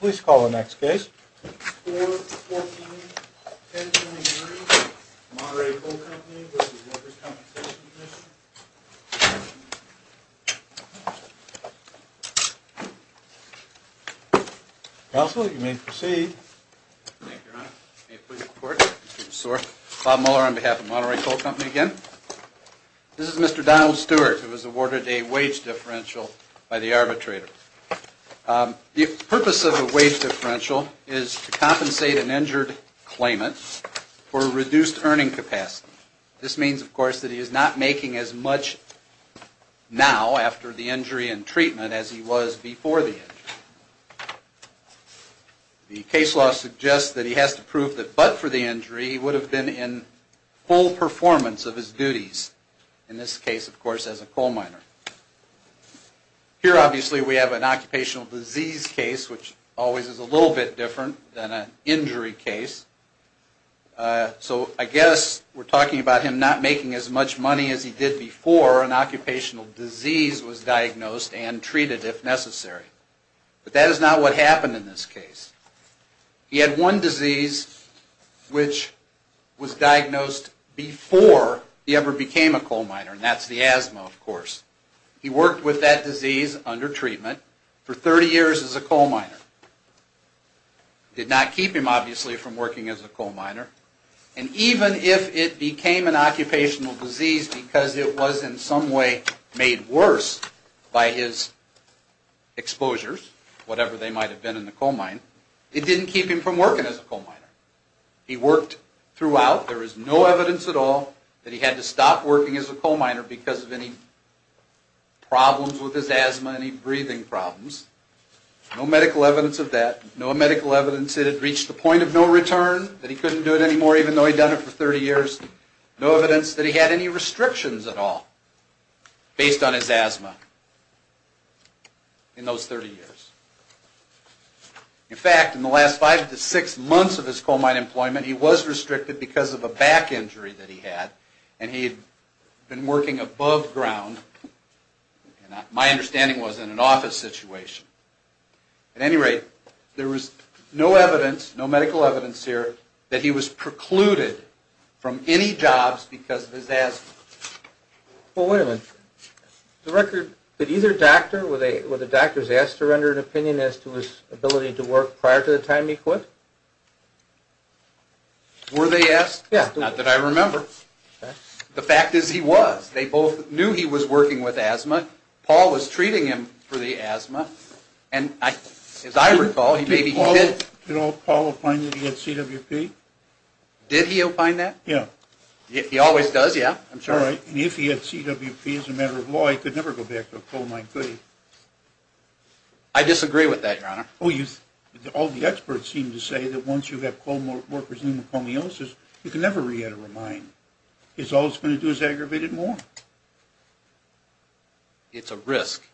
Commission? Council, you may proceed. Thank you, your Honor. May I please report? Mr. Zuhr. Bob Mueller on behalf of Monterey Coal Company again. This is Mr. Donald Stewart who was awarded a wage differential by the arbitrator. The purpose of a wage differential is to compensate an injured claimant for reduced earning capacity. This means, of course, that he is not making as much now after the injury and treatment as he was before the injury. The case law suggests that he has to prove that but for the injury he would have been in full performance of his duties, in this case, of course, as a coal miner. Here, obviously, we have an occupational disease case which always is a little bit different than an injury case. So I guess we're talking about him not making as much money as he did before an occupational disease was diagnosed and treated if necessary. But that is not what happened in this case. He had one disease which was diagnosed before he ever became a coal miner and that's the asthma, of course. He worked with that disease under treatment for 30 years as a coal miner. Did not keep him, obviously, from working as a coal miner. And even if it became an occupational disease because it was in some way made worse by his exposures, whatever they might have been in the coal mine, it didn't keep him from working as a coal miner. He worked throughout. There is no evidence at all that he had to stop working as a coal miner because of any problems with his asthma, any breathing problems. No medical evidence of that. No medical evidence that it reached the point of no return, that he couldn't do it anymore even though he'd done it for 30 years. No evidence that he had any restrictions at all based on his asthma in those 30 years. In fact, in the last five to six months of his coal mine employment, he was restricted because of a back injury that he had and he had been working above ground. My understanding was in an office situation. At any rate, there was no evidence, no medical evidence here that he was precluded from any jobs because of his asthma. Well, wait a minute. The record, did either doctor, were the doctors asked to render an opinion as to his ability to work prior to the time he quit? Were they asked? Yeah. Not that I remember. The fact is he was. They both knew he was working with asthma. Paul was treating him for the asthma. And as I recall, he maybe did. Did Paul opine that he had CWP? Did he opine that? Yeah. He always does. Yeah, I'm sure. And if he had CWP as a matter of law, he could never go back to a coal mine, could he? I disagree with that, your honor. All the experts seem to say that once you have coal workers pneumocomiosis, you can never re-enter a mine. All it's going to do is aggravate it more. It's a risk.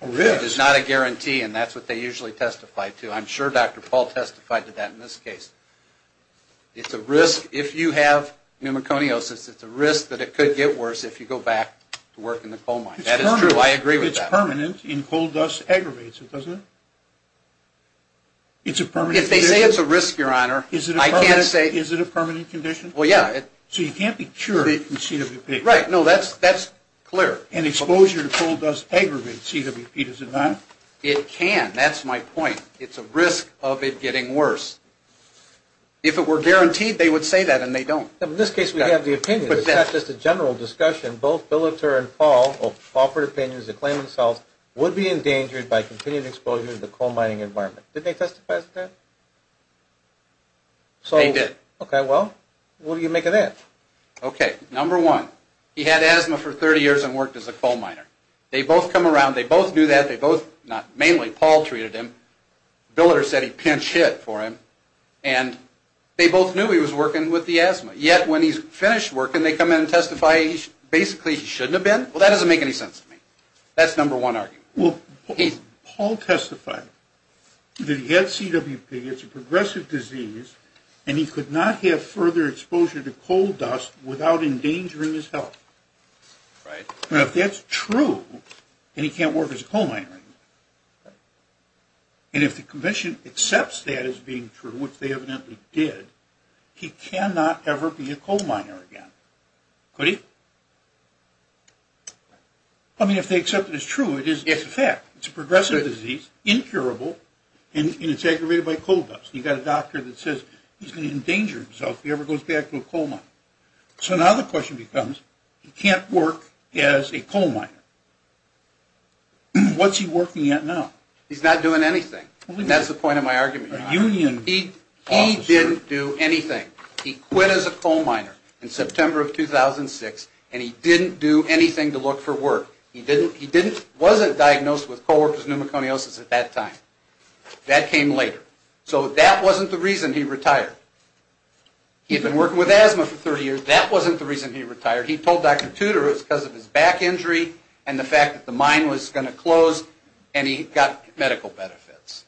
A risk? It's not a guarantee and that's what they usually testify to. I'm sure Dr. Paul testified to that in this case. It's a risk if you have pneumocomiosis. It's a risk that it could get worse if you go back to work in the coal mine. That is true. I agree with that. If it's permanent and coal dust aggravates it, doesn't it? It's a permanent condition? If they say it's a risk, your honor, I can't say. Is it a permanent condition? Well, yeah. So you can't be sure that it can CWP? Right. No, that's clear. And exposure to coal dust aggravates CWP, does it not? It can. That's my point. It's a risk of it getting worse. If it were guaranteed, they would say that and they don't. In this case, we have the opinion, but it's not just a general discussion. Both Billeter and Paul offered opinions that claim themselves would be endangered by continued exposure to the coal mining environment. Did they testify to that? They did. Okay. Well, what do you make of that? Okay. Number one, he had asthma for 30 years and worked as a coal miner. They both come in, not mainly, Paul treated him. Billeter said he pinch hit for him. And they both knew he was working with the asthma. Yet, when he's finished working, they come in and testify basically he shouldn't have been. Well, that doesn't make any sense to me. That's number one argument. Well, Paul testified that he had CWP, it's a progressive disease, and he could not have further exposure to coal dust without endangering his health. Right. Now, if that's true, then he can't work as a coal miner anymore. And if the Commission accepts that as being true, which they evidently did, he cannot ever be a coal miner again. Could he? I mean, if they accept it as true, it is a fact. It's a progressive disease, incurable, and it's aggravated by coal dust. You've got a doctor that says he's going to endanger himself if he ever goes back to a coal mine. So now the question becomes, he can't work as a coal miner. What's he working at now? He's not doing anything. That's the point of my argument. A union officer. He didn't do anything. He quit as a coal miner in September of 2006, and he didn't do anything to look for work. He wasn't diagnosed with co-workers pneumoconiosis at that time. That came later. So that wasn't the reason he retired. He had been working with asthma for 30 years. That wasn't the reason he retired. He told Dr. Tudor it was because of his back injury and the fact that the mine was going to close, and he got medical benefits.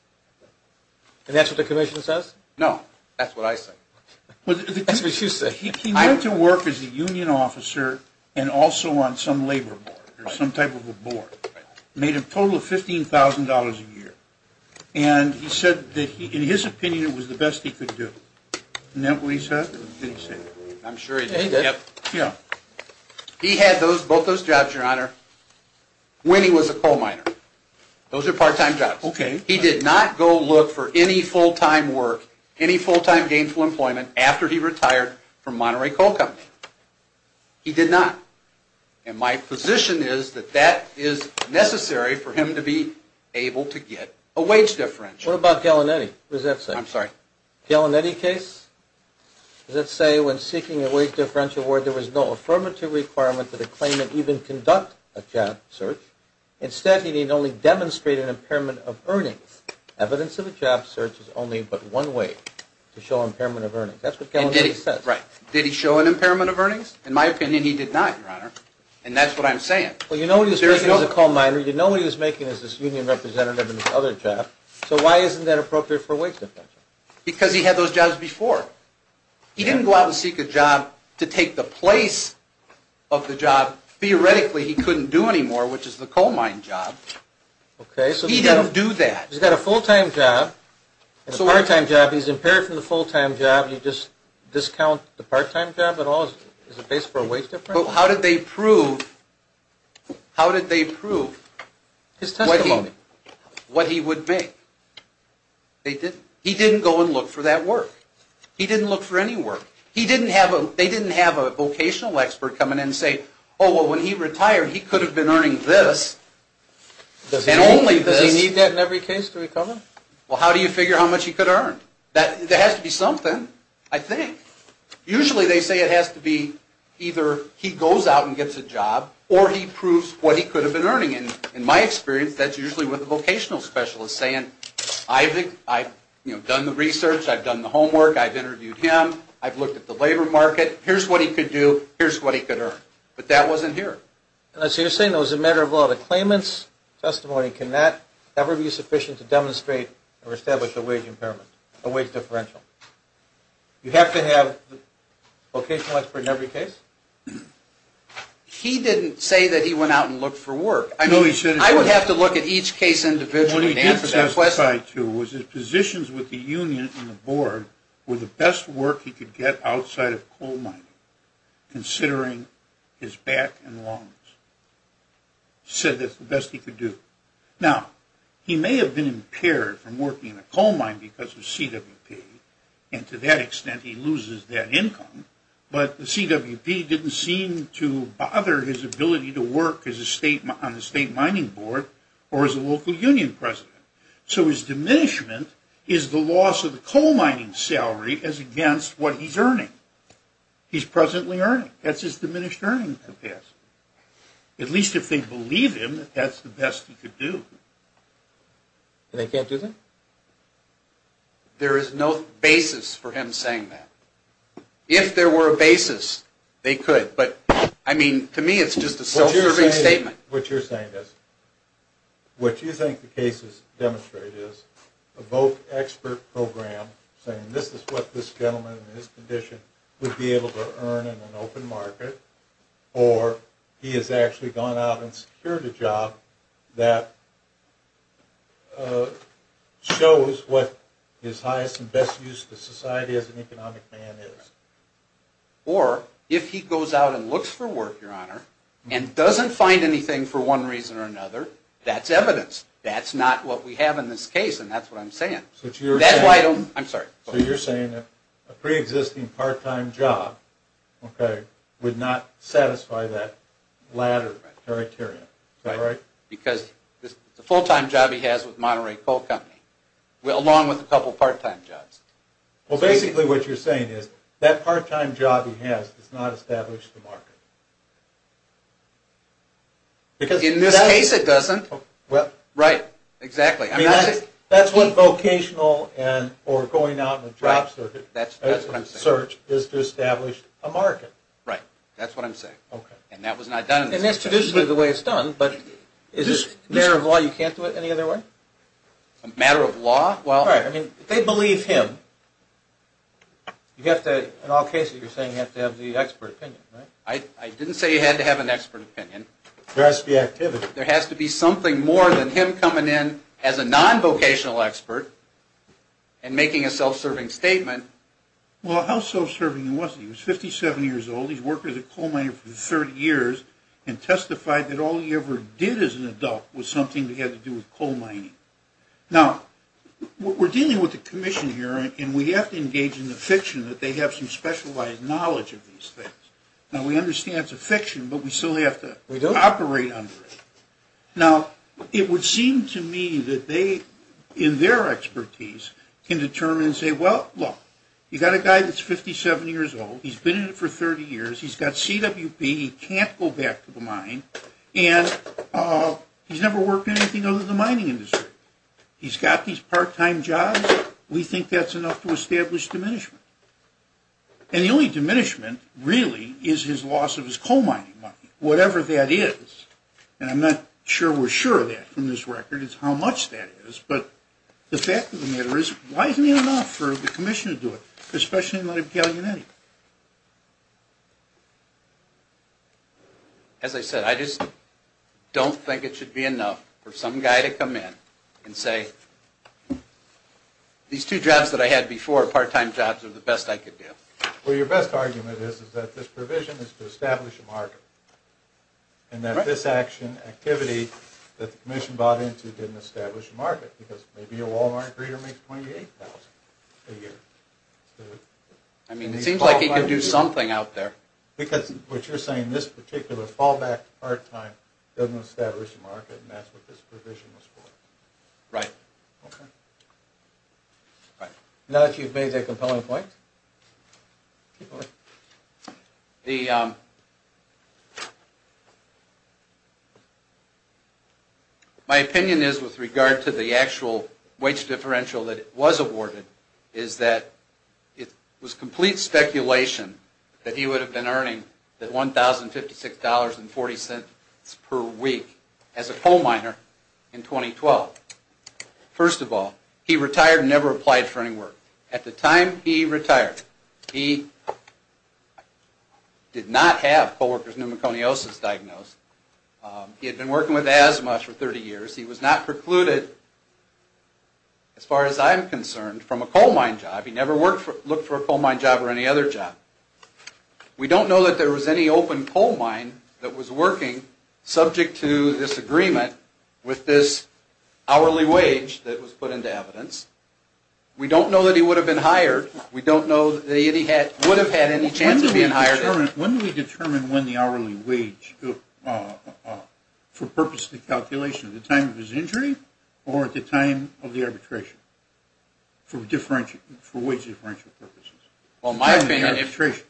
And that's what the Commission says? No. That's what I say. That's what you say. He went to work as a union officer and also on some labor board or some type of a board. Made a total of $15,000 a year. And he said that in his opinion it was the best he could do. Isn't that what he said? I'm sure he did. He did? Yes. He had both those jobs, Your Honor, when he was a coal miner. Those are part-time jobs. Okay. He did not go look for any full-time work, any full-time gainful employment after he retired from Monterey Coal Company. He did not. And my position is that that is necessary for him to be able to get a wage differential. What about Gallinetti? I'm sorry? Gallinetti case? Does that say, when seeking a wage differential award, there was no affirmative requirement that a claimant even conduct a job search? Instead, he need only demonstrate an impairment of earnings. Evidence of a job search is only but one way to show impairment of earnings. That's what Gallinetti said. And did he? Right. Did he show an impairment of earnings? In my opinion, he did not, Your Honor. And that's what I'm saying. Well, you know what he was making as a coal miner. You know what he was making as this because he had those jobs before. He didn't go out and seek a job to take the place of the job, theoretically, he couldn't do anymore, which is the coal mine job. Okay. He didn't do that. He's got a full-time job and a part-time job. He's impaired from the full-time job. You just discount the part-time job at all? Is it based for a wage differential? Well, how did they prove, how did they prove? His testimony. His testimony. What he would make. He didn't go and look for that work. He didn't look for any work. They didn't have a vocational expert come in and say, oh, well, when he retired, he could have been earning this and only this. Does he need that in every case to recover? Well, how do you figure how much he could earn? There has to be something, I think. Usually, they say it has to be either he goes out and gets a job or he proves what he could with a vocational specialist saying, I've done the research, I've done the homework, I've interviewed him, I've looked at the labor market, here's what he could do, here's what he could earn. But that wasn't here. So you're saying it was a matter of a lot of claimants' testimony. Can that ever be sufficient to demonstrate or establish a wage impairment, a wage differential? You have to have a vocational expert in every case? He didn't say that he went out and looked for work. No, he should have. I would have to look at each case individually to answer that question. What he did testify to was his positions with the union and the board were the best work he could get outside of coal mining, considering his back and lungs. He said that's the best he could do. Now, he may have been impaired from working in a coal mine because of CWP, and to that extent, he loses that income, but the CWP didn't seem to bother his ability to work on the state mining board or as a local union president. So his diminishment is the loss of the coal mining salary as against what he's earning. He's presently earning. That's his diminished earning capacity. At least if they believe him, that's the best he could do. And they can't do that? There is no basis for him saying that. If there were a basis, they could. To me, it's just a self-serving statement. What you're saying is, what you think the cases demonstrate is a voc-expert program saying this is what this gentleman in this condition would be able to earn in an open market, or he has actually gone out and secured a job that shows what his highest and best use of society as an economic man is. Or, if he goes out and looks for work, Your Honor, and doesn't find anything for one reason or another, that's evidence. That's not what we have in this case, and that's what I'm saying. So you're saying a pre-existing part-time job would not satisfy that latter criteria? Because it's a full-time job he has with Monterey Coal Company, along with a couple part-time jobs. Well, basically what you're saying is that part-time job he has does not establish the market. In this case, it doesn't. Right. Exactly. That's what vocational or going out in a job search is to establish a market. Right. That's what I'm saying. And that was not done in this case. And that's traditionally the way it's done, but is this a matter of law you can't do it any other way? A matter of law? Well, if they believe him, in all cases you're saying you have to have the expert opinion, right? I didn't say you had to have an expert opinion. There has to be activity. There has to be something more than him coming in as a non-vocational expert and making a self-serving statement. Well, how self-serving was he? He was 57 years old. He's worked as a coal miner for 30 years and testified that all he ever did as an adult was something that had to do with coal mining. Now, we're dealing with a commission here, and we have to engage in the fiction that they have some specialized knowledge of these things. Now, we understand it's a fiction, but we still have to operate under it. Now, it would seem to me that they, in their expertise, can determine and say, well, look, you've got a guy that's 57 years old. He's been in it for 30 years. He's got CWP. He can't go back to the mine. And he's never worked in anything other than the mining industry. He's got these part-time jobs. We think that's enough to establish diminishment. And the only diminishment, really, is his loss of his coal mining money, whatever that is. And I'm not sure we're sure of that from this record, is how much that is. But the fact of the matter is, why isn't it enough for the commission to do it, especially in light of Gaglianetti? As I said, I just don't think it should be enough for some guy to come in and say, these two jobs that I had before, part-time jobs, are the best I could do. Well, your best argument is that this provision is to establish a market. And that this action, activity, that the commission bought into didn't establish a market. Because maybe a Walmart greeter makes $28,000 a year. I mean, it seems like he could do something out there. Because what you're saying, this particular fallback to part-time doesn't establish a market, and that's what this provision was for. Right. Now that you've made that compelling point, my opinion is, with regard to the actual wage differential that was awarded, is that it was complete speculation that he would have been earning that $1,056.40 per week as a coal miner in 2012. First of all, he retired and never applied for any work. At the time he retired, he did not have co-worker's pneumoconiosis diagnosed. He had been working with asthma for 30 years. He was not precluded, as far as I'm concerned, from a coal mine job. He never looked for a coal mine job or any other job. We don't know that there was any open coal mine that was working, subject to this agreement with this hourly wage that was put into evidence. We don't know that he would have been hired. We don't know that he would have had any chance of being hired. When do we determine when the hourly wage, for purposes of calculation, at the time of his injury or at the time of the arbitration for wage differential purposes? At the time of the arbitration.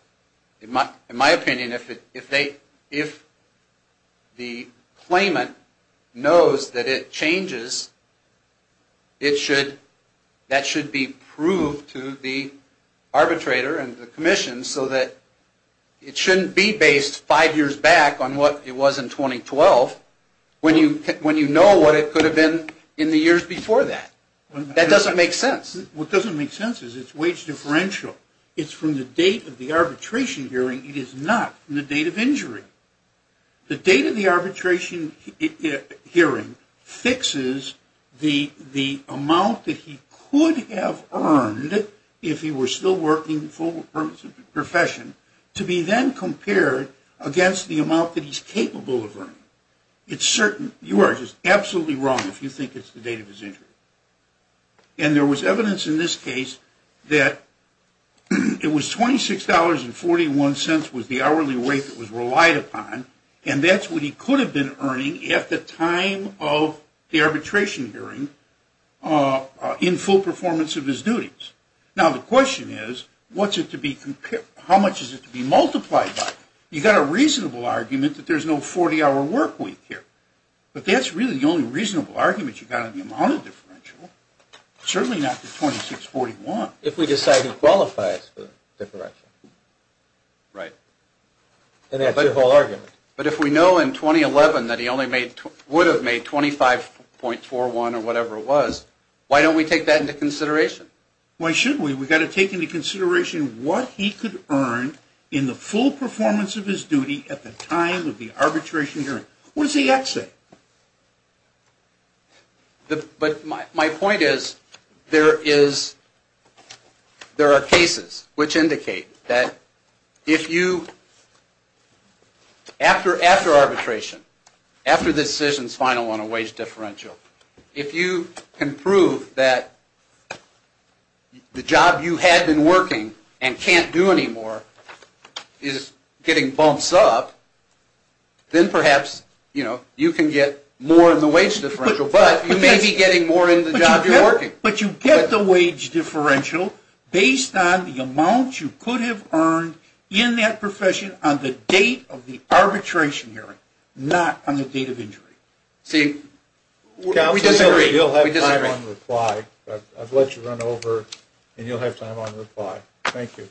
In my opinion, if the claimant knows that it changes, that should be proved to the arbitrator and the commission so that it shouldn't be based five years back on what it was in 2012. When you know what it could have been in the years before that. That doesn't make sense. What doesn't make sense is it's wage differential. It's from the date of the arbitration hearing. It is not from the date of injury. The date of the arbitration hearing fixes the amount that he could have earned if he were still working full-time profession to be then compared against the amount that he's capable of earning. It's certain. You are just absolutely wrong if you think it's the date of his injury. And there was evidence in this case that it was $26.41 was the hourly rate that was relied upon, and that's what he could have been earning at the time of the arbitration hearing in full performance of his duties. Now, the question is, how much is it to be multiplied by? You've got a reasonable argument that there's no 40-hour work week here, but that's really the only reasonable argument you've got on the amount of differential, certainly not the $26.41. If we decide it qualifies for differential. Right. And that's your whole argument. But if we know in 2011 that he would have made $25.41 or whatever it was, why don't we take that into consideration? Why should we? We've got to take into consideration what he could earn in the full performance of his duty at the time of the arbitration hearing. What does the X say? But my point is there are cases which indicate that if you, after arbitration, after the decision's final on a wage differential, if you can prove that the job you had been working and can't do anymore is getting bumps up, then perhaps you can get more in the wage differential, but you may be getting more in the job you're working. But you get the wage differential based on the amount you could have earned in that profession on the date of the arbitration hearing, not on the date of injury. See, we disagree. You'll have time on reply. I've let you run over, and you'll have time on reply. Thank you.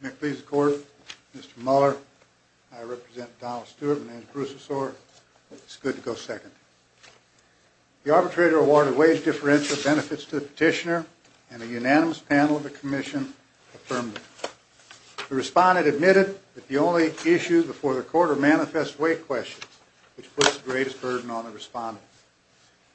May it please the Court, Mr. Mueller. I represent Donald Stewart. My name's Bruce Ossor. It's good to go second. The arbitrator awarded wage differential benefits to the petitioner, and a unanimous panel of the Commission affirmed it. The respondent admitted that the only issue before the Court are manifest weight questions, which puts the greatest burden on the respondent.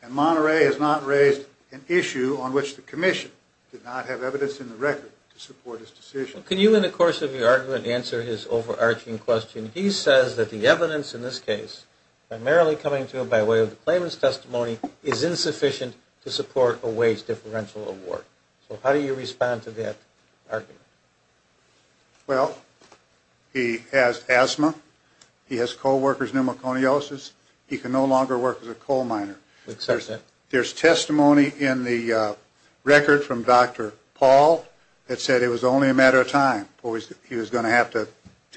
And Monterey has not raised an issue on which the Commission did not have evidence in the record to support his decision. Can you, in the course of your argument, answer his overarching question? He says that the evidence in this case, primarily coming to him by way of the claimant's testimony, is insufficient to support a wage differential award. So how do you respond to that argument? Well, he has asthma. He has co-worker's pneumoconiosis. He can no longer work as a coal miner. There's testimony in the record from Dr. Paul that said it was only a matter of time before he was going to have to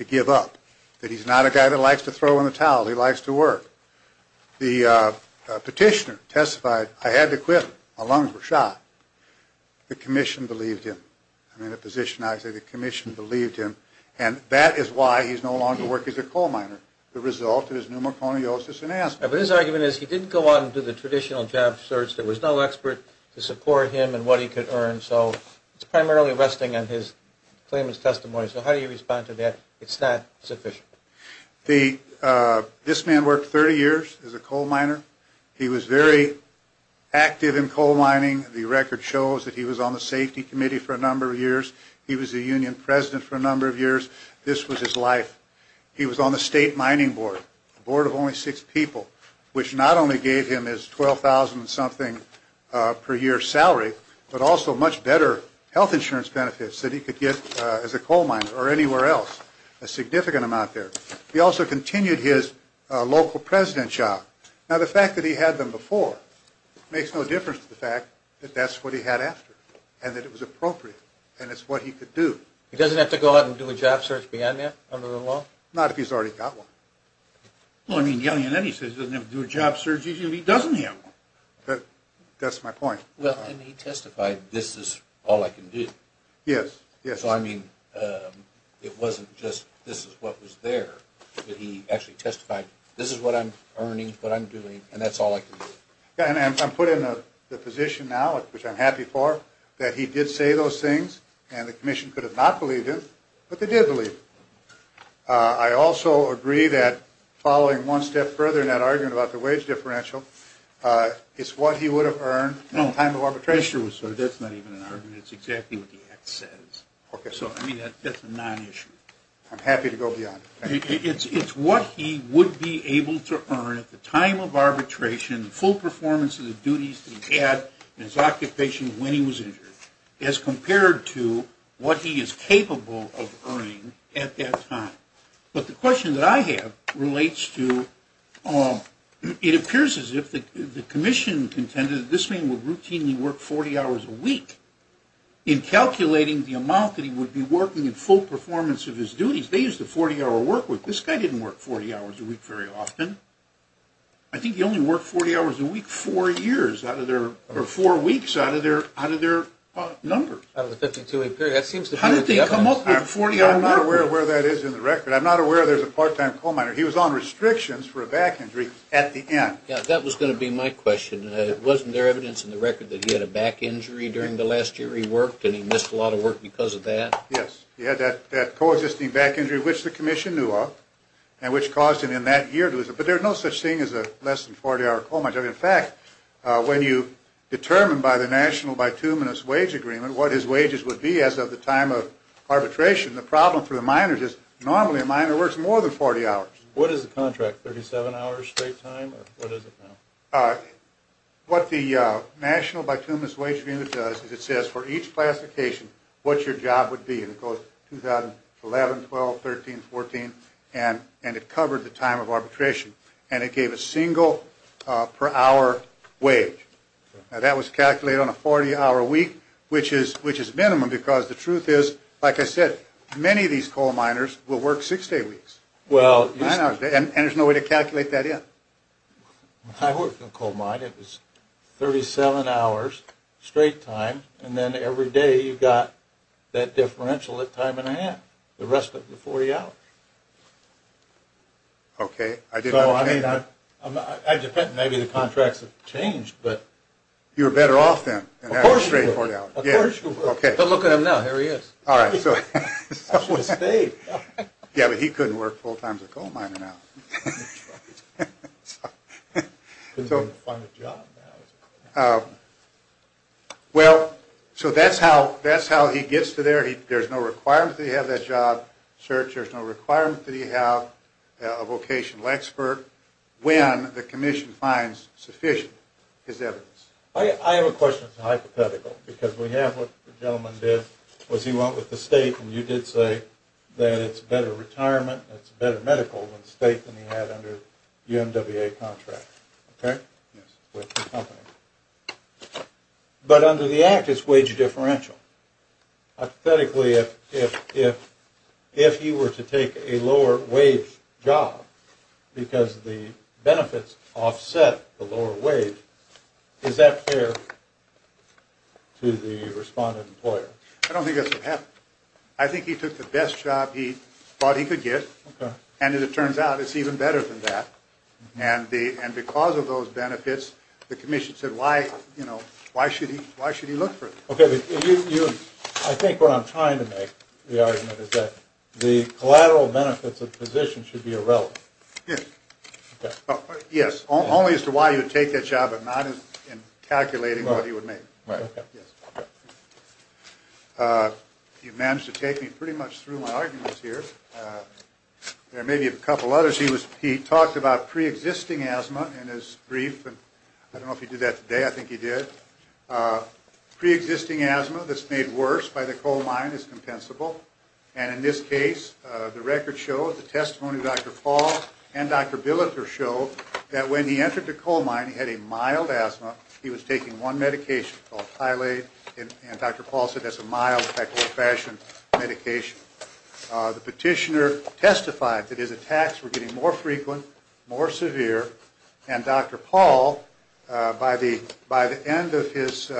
give up, that he's not a guy that likes to throw in the towel. He likes to work. The petitioner testified, I had to quit. My lungs were shot. The Commission believed him. I'm in a position now to say the Commission believed him, and that is why he's no longer working as a coal miner. The result is pneumoconiosis and asthma. But his argument is he didn't go out and do the traditional job search. There was no expert to support him in what he could earn. So it's primarily resting on his claimant's testimony. So how do you respond to that, it's not sufficient? This man worked 30 years as a coal miner. He was very active in coal mining. The record shows that he was on the Safety Committee for a number of years. He was a union president for a number of years. This was his life. He was on the State Mining Board, a board of only six people, which not only gave him his $12,000-something per year salary, but also much better health insurance benefits that he could get as a coal miner or anywhere else, a significant amount there. He also continued his local president job. Now, the fact that he had them before makes no difference to the fact that that's what he had after and that it was appropriate and it's what he could do. He doesn't have to go out and do a job search beyond that under the law? Not if he's already got one. Well, I mean, the only thing he says he doesn't have to do a job search is if he doesn't have one. That's my point. Well, and he testified, this is all I can do. Yes, yes. So, I mean, it wasn't just this is what was there. He actually testified, this is what I'm earning, what I'm doing, and that's all I can do. And I'm put in the position now, which I'm happy for, that he did say those things and the commission could have not believed him, but they did believe him. I also agree that following one step further in that argument about the wage differential, it's what he would have earned at the time of arbitration. That's not even an argument. It's exactly what the act says. So, I mean, that's a non-issue. I'm happy to go beyond. It's what he would be able to earn at the time of arbitration, the full performance of the duties that he had in his occupation when he was injured, as compared to what he is capable of earning at that time. But the question that I have relates to, it appears as if the commission intended that this man would routinely work 40 hours a week. In calculating the amount that he would be working in full performance of his duties, they used a 40-hour work week. This guy didn't work 40 hours a week very often. I think he only worked 40 hours a week four years out of their, or four weeks out of their numbers. Out of the 52-week period. I'm not aware of where that is in the record. I'm not aware there's a part-time coal miner. He was on restrictions for a back injury at the end. Yeah, that was going to be my question. Wasn't there evidence in the record that he had a back injury during the last year he worked and he missed a lot of work because of that? Yes, he had that coexisting back injury, which the commission knew of, and which caused him in that year to lose it. But there's no such thing as a less than 40-hour coal miner. In fact, when you determine by the national bituminous wage agreement what his wages would be as of the time of arbitration, the problem for the miners is normally a miner works more than 40 hours. What is the contract, 37 hours straight time, or what is it now? What the national bituminous wage agreement does is it says for each classification what your job would be, and it goes 2011, 12, 13, 14, and it covered the time of arbitration, and it gave a single per hour wage. Now, that was calculated on a 40-hour week, which is minimum because the truth is, like I said, many of these coal miners will work six-day weeks, and there's no way to calculate that in. I worked in a coal mine. It was 37 hours straight time, and then every day you got that differential at time and a half, the rest of the 40 hours. Okay. I depend. Maybe the contracts have changed, but... You were better off then. Of course you were. Don't look at him now. Here he is. I should have stayed. Yeah, but he couldn't work full-time as a coal miner now. Couldn't find a job now. Well, so that's how he gets to there. There's no requirement that he have that job search. There's no requirement that he have a vocational expert when the commission finds sufficient, his evidence. I have a question that's hypothetical because we have what the gentleman did was he went with the state, and you did say that it's better retirement, it's better medical than state than he had under the NWA contract, okay, with the company. But under the Act, it's wage differential. Hypothetically, if he were to take a lower-wage job because the benefits offset the lower wage, is that fair to the respondent employer? I don't think that's what happened. I think he took the best job he thought he could get, and as it turns out, it's even better than that. And because of those benefits, the commission said, why should he look for it? Okay. I think what I'm trying to make, the argument, is that the collateral benefits of the position should be irrelevant. Yes. Okay. Yes. Only as to why you would take that job and not in calculating what he would make. Right. Okay. Yes. You've managed to take me pretty much through my arguments here. There may be a couple others. He talked about preexisting asthma in his brief, and I don't know if he did that today. I think he did. Preexisting asthma that's made worse by the coal mine is compensable, and in this case, the records show, the testimony of Dr. Paul and Dr. Billeter show, that when he entered the coal mine, he had a mild asthma. He was taking one medication called Tylate, and Dr. Paul said that's a mild type of old-fashioned medication. The petitioner testified that his attacks were getting more frequent, more severe, and Dr. Paul, by the end of his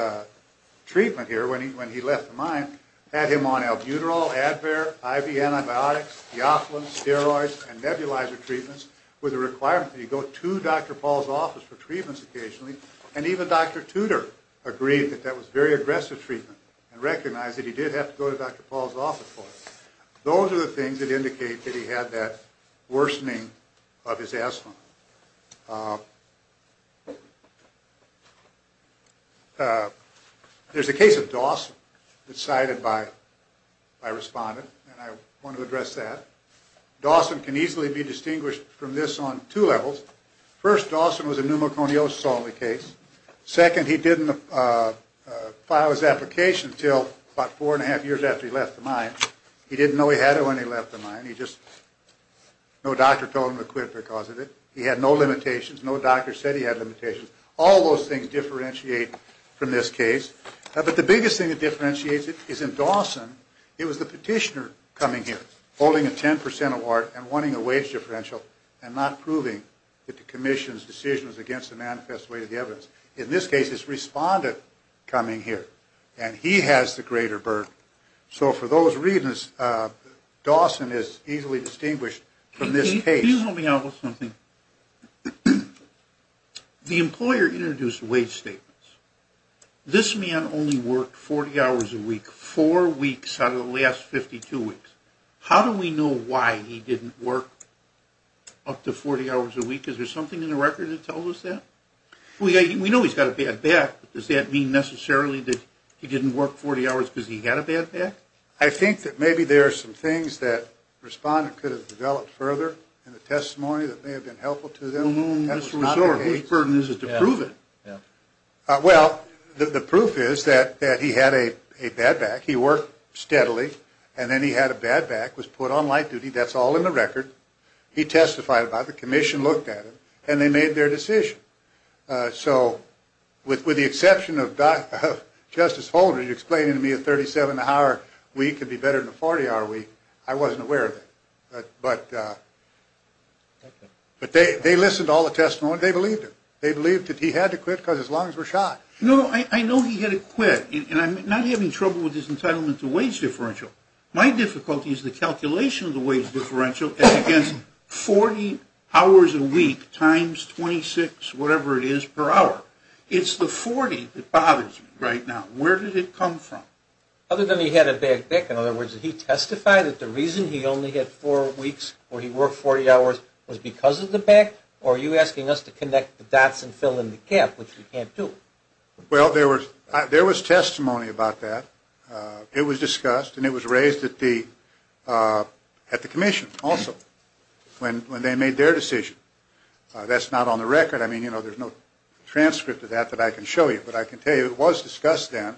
treatment here, when he left the mine, had him on albuterol, Advair, IV antibiotics, diophilin, steroids, and nebulizer treatments, with a requirement that he go to Dr. Paul's office for treatments occasionally, and even Dr. Tudor agreed that that was very aggressive treatment and recognized that he did have to go to Dr. Paul's office for it. Those are the things that indicate that he had that worsening of his asthma. There's a case of Dawson that's cited by a respondent, and I want to address that. Dawson can easily be distinguished from this on two levels. First, Dawson was a pneumoconiosis-only case. Second, he didn't file his application until about four and a half years after he left the mine. He didn't know he had it when he left the mine. No doctor told him to quit because of it. He had no limitations. No doctor said he had limitations. All those things differentiate from this case. But the biggest thing that differentiates it is in Dawson, it was the petitioner coming here holding a 10% award and wanting a wage differential and not proving that the commission's decision was against the manifest way of the evidence. In this case, it's the respondent coming here, and he has the greater burden. So for those reasons, Dawson is easily distinguished from this case. Can you help me out with something? The employer introduced wage statements. This man only worked 40 hours a week, four weeks out of the last 52 weeks. How do we know why he didn't work up to 40 hours a week? Is there something in the record that tells us that? We know he's got a bad back. Does that mean necessarily that he didn't work 40 hours because he had a bad back? I think that maybe there are some things that the respondent could have developed further in the testimony that may have been helpful to them. No, no, no. What burden is it to prove it? Well, the proof is that he had a bad back. He worked steadily, and then he had a bad back, was put on light duty. That's all in the record. He testified about it. The commission looked at it, and they made their decision. So with the exception of Justice Holdren explaining to me a 37-hour week could be better than a 40-hour week, I wasn't aware of that. But they listened to all the testimony, and they believed it. They believed that he had to quit because his lungs were shot. No, no, I know he had to quit. And I'm not having trouble with his entitlement to wage differential. My difficulty is the calculation of the wage differential as against 40 hours a week times 26, whatever it is, per hour. It's the 40 that bothers me right now. Where did it come from? Other than he had a bad back, in other words, did he testify that the reason he only had four weeks where he worked 40 hours was because of the back, or are you asking us to connect the dots and fill in the gap, which we can't do? Well, there was testimony about that. It was discussed, and it was raised at the commission also when they made their decision. That's not on the record. I mean, you know, there's no transcript of that that I can show you. But I can tell you it was discussed then,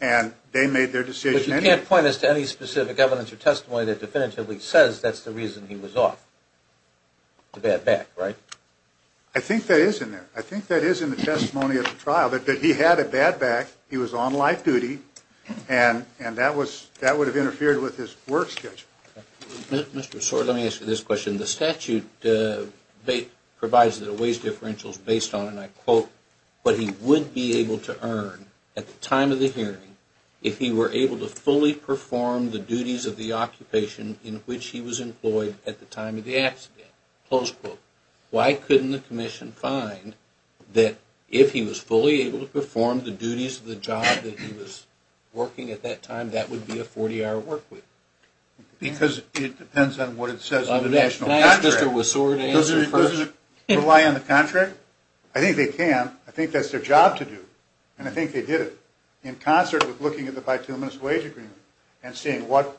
and they made their decision. But you can't point us to any specific evidence or testimony that definitively says that's the reason he was off, the bad back, right? I think that is in there. I think that is in the testimony at the trial, that he had a bad back, he was on life duty, and that would have interfered with his work schedule. Mr. Soar, let me ask you this question. The statute provides that a wage differential is based on, and I quote, what he would be able to earn at the time of the hearing if he were able to fully perform the duties of the occupation in which he was employed at the time of the accident, close quote. Why couldn't the commission find that if he was fully able to perform the duties of the job that he was working at that time, that would be a 40-hour work week? Because it depends on what it says in the national contract. Can I ask Mr. Soar to answer first? Doesn't it rely on the contract? I think they can. I think that's their job to do. And I think they did it in concert with looking at the bituminous wage agreement and seeing what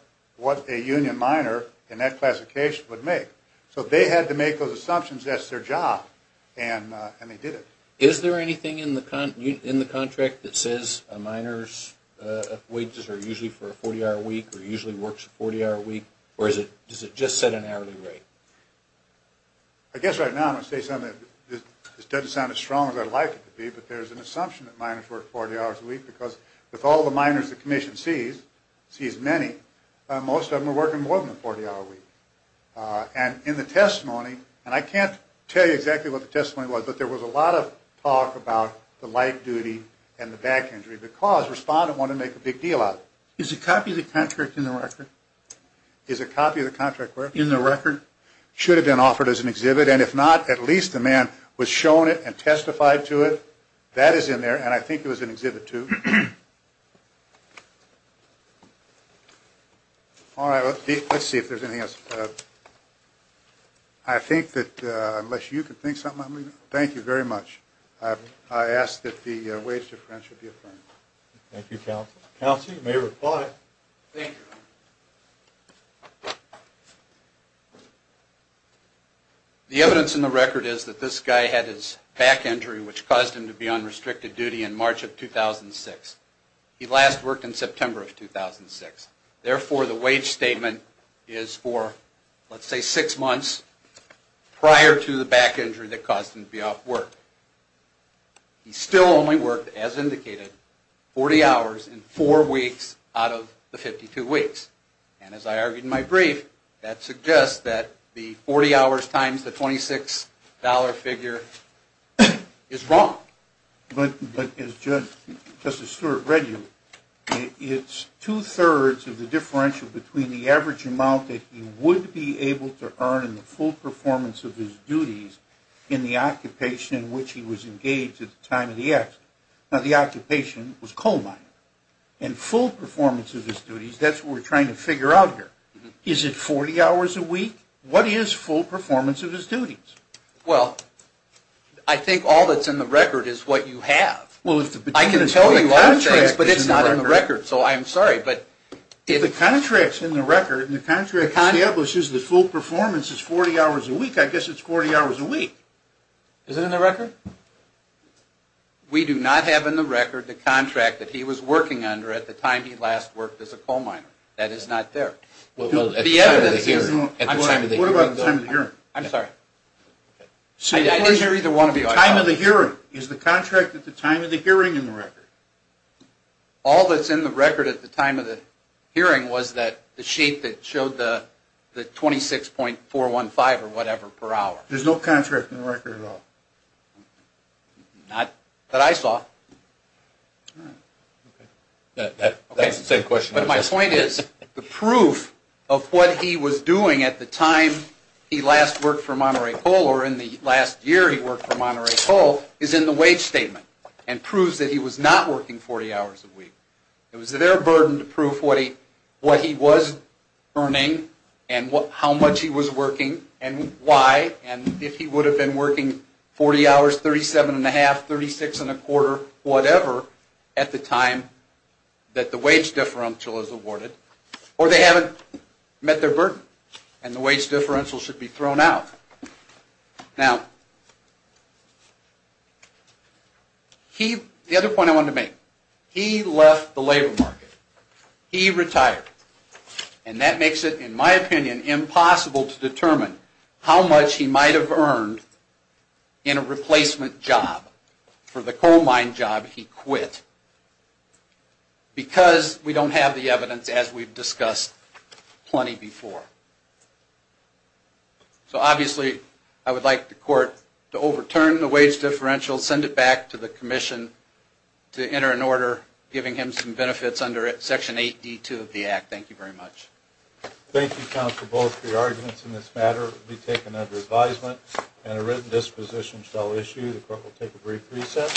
a union minor in that classification would make. So if they had to make those assumptions, that's their job, and they did it. Is there anything in the contract that says a minor's wages are usually for a 40-hour week or usually works a 40-hour week, or does it just set an hourly rate? I guess right now I'm going to say something that doesn't sound as strong as I'd like it to be, but there's an assumption that minors work 40 hours a week because with all the minors the commission sees, many, most of them are working more than a 40-hour week. And in the testimony, and I can't tell you exactly what the testimony was, but there was a lot of talk about the light duty and the back injury because the respondent wanted to make a big deal out of it. Is a copy of the contract in the record? Is a copy of the contract where? In the record. Should have been offered as an exhibit, and if not, at least the man was shown it and testified to it. That is in there, and I think it was in exhibit two. All right. Let's see if there's anything else. I think that unless you can think of something, thank you very much. I ask that the wage differential be affirmed. Thank you, counsel. Counsel, you may reply. Thank you. Thank you. The evidence in the record is that this guy had his back injury, which caused him to be on restricted duty in March of 2006. He last worked in September of 2006. Therefore, the wage statement is for, let's say, six months prior to the back injury that caused him to be off work. He still only worked, as indicated, 40 hours in four weeks out of the 52 weeks, and as I argued in my brief, that suggests that the 40 hours times the $26 figure is wrong. But as Justice Stewart read you, it's two-thirds of the differential between the average amount that he would be able to earn in the full performance of his duties in the occupation in which he was engaged at the time of the accident. Now, the occupation was coal mining, and full performance of his duties, that's what we're trying to figure out here. Is it 40 hours a week? What is full performance of his duties? Well, I think all that's in the record is what you have. I can tell you all the things, but it's not in the record, so I'm sorry. If the contract's in the record and the contract establishes that full performance is 40 hours a week, I guess it's 40 hours a week. Is it in the record? We do not have in the record the contract that he was working under at the time he last worked as a coal miner. That is not there. Well, at the time of the hearing. What about the time of the hearing? I'm sorry. I didn't hear either one of you. The time of the hearing. Is the contract at the time of the hearing in the record? All that's in the record at the time of the hearing was the sheet that showed the 26.415 or whatever per hour. There's no contract in the record at all? Not that I saw. That's the same question. But my point is the proof of what he was doing at the time he last worked for Monterey Coal or in the last year he worked for Monterey Coal is in the wage statement and proves that he was not working 40 hours a week. It was their burden to prove what he was earning and how much he was working and why and if he would have been working 40 hours, 37 and a half, 36 and a quarter, whatever, at the time that the wage differential is awarded. Or they haven't met their burden and the wage differential should be thrown out. Now, the other point I wanted to make. He left the labor market. He retired. And that makes it, in my opinion, impossible to determine how much he might have earned in a replacement job for the coal mine job he quit because we don't have the evidence as we've discussed plenty before. So, obviously, I would like the court to overturn the wage differential, send it back to the commission to enter an order giving him some benefits under Section 8D2 of the Act. Thank you very much. Thank you, counsel, both for your arguments in this matter. It will be taken under advisement and a written disposition shall issue. The court will take a brief reset.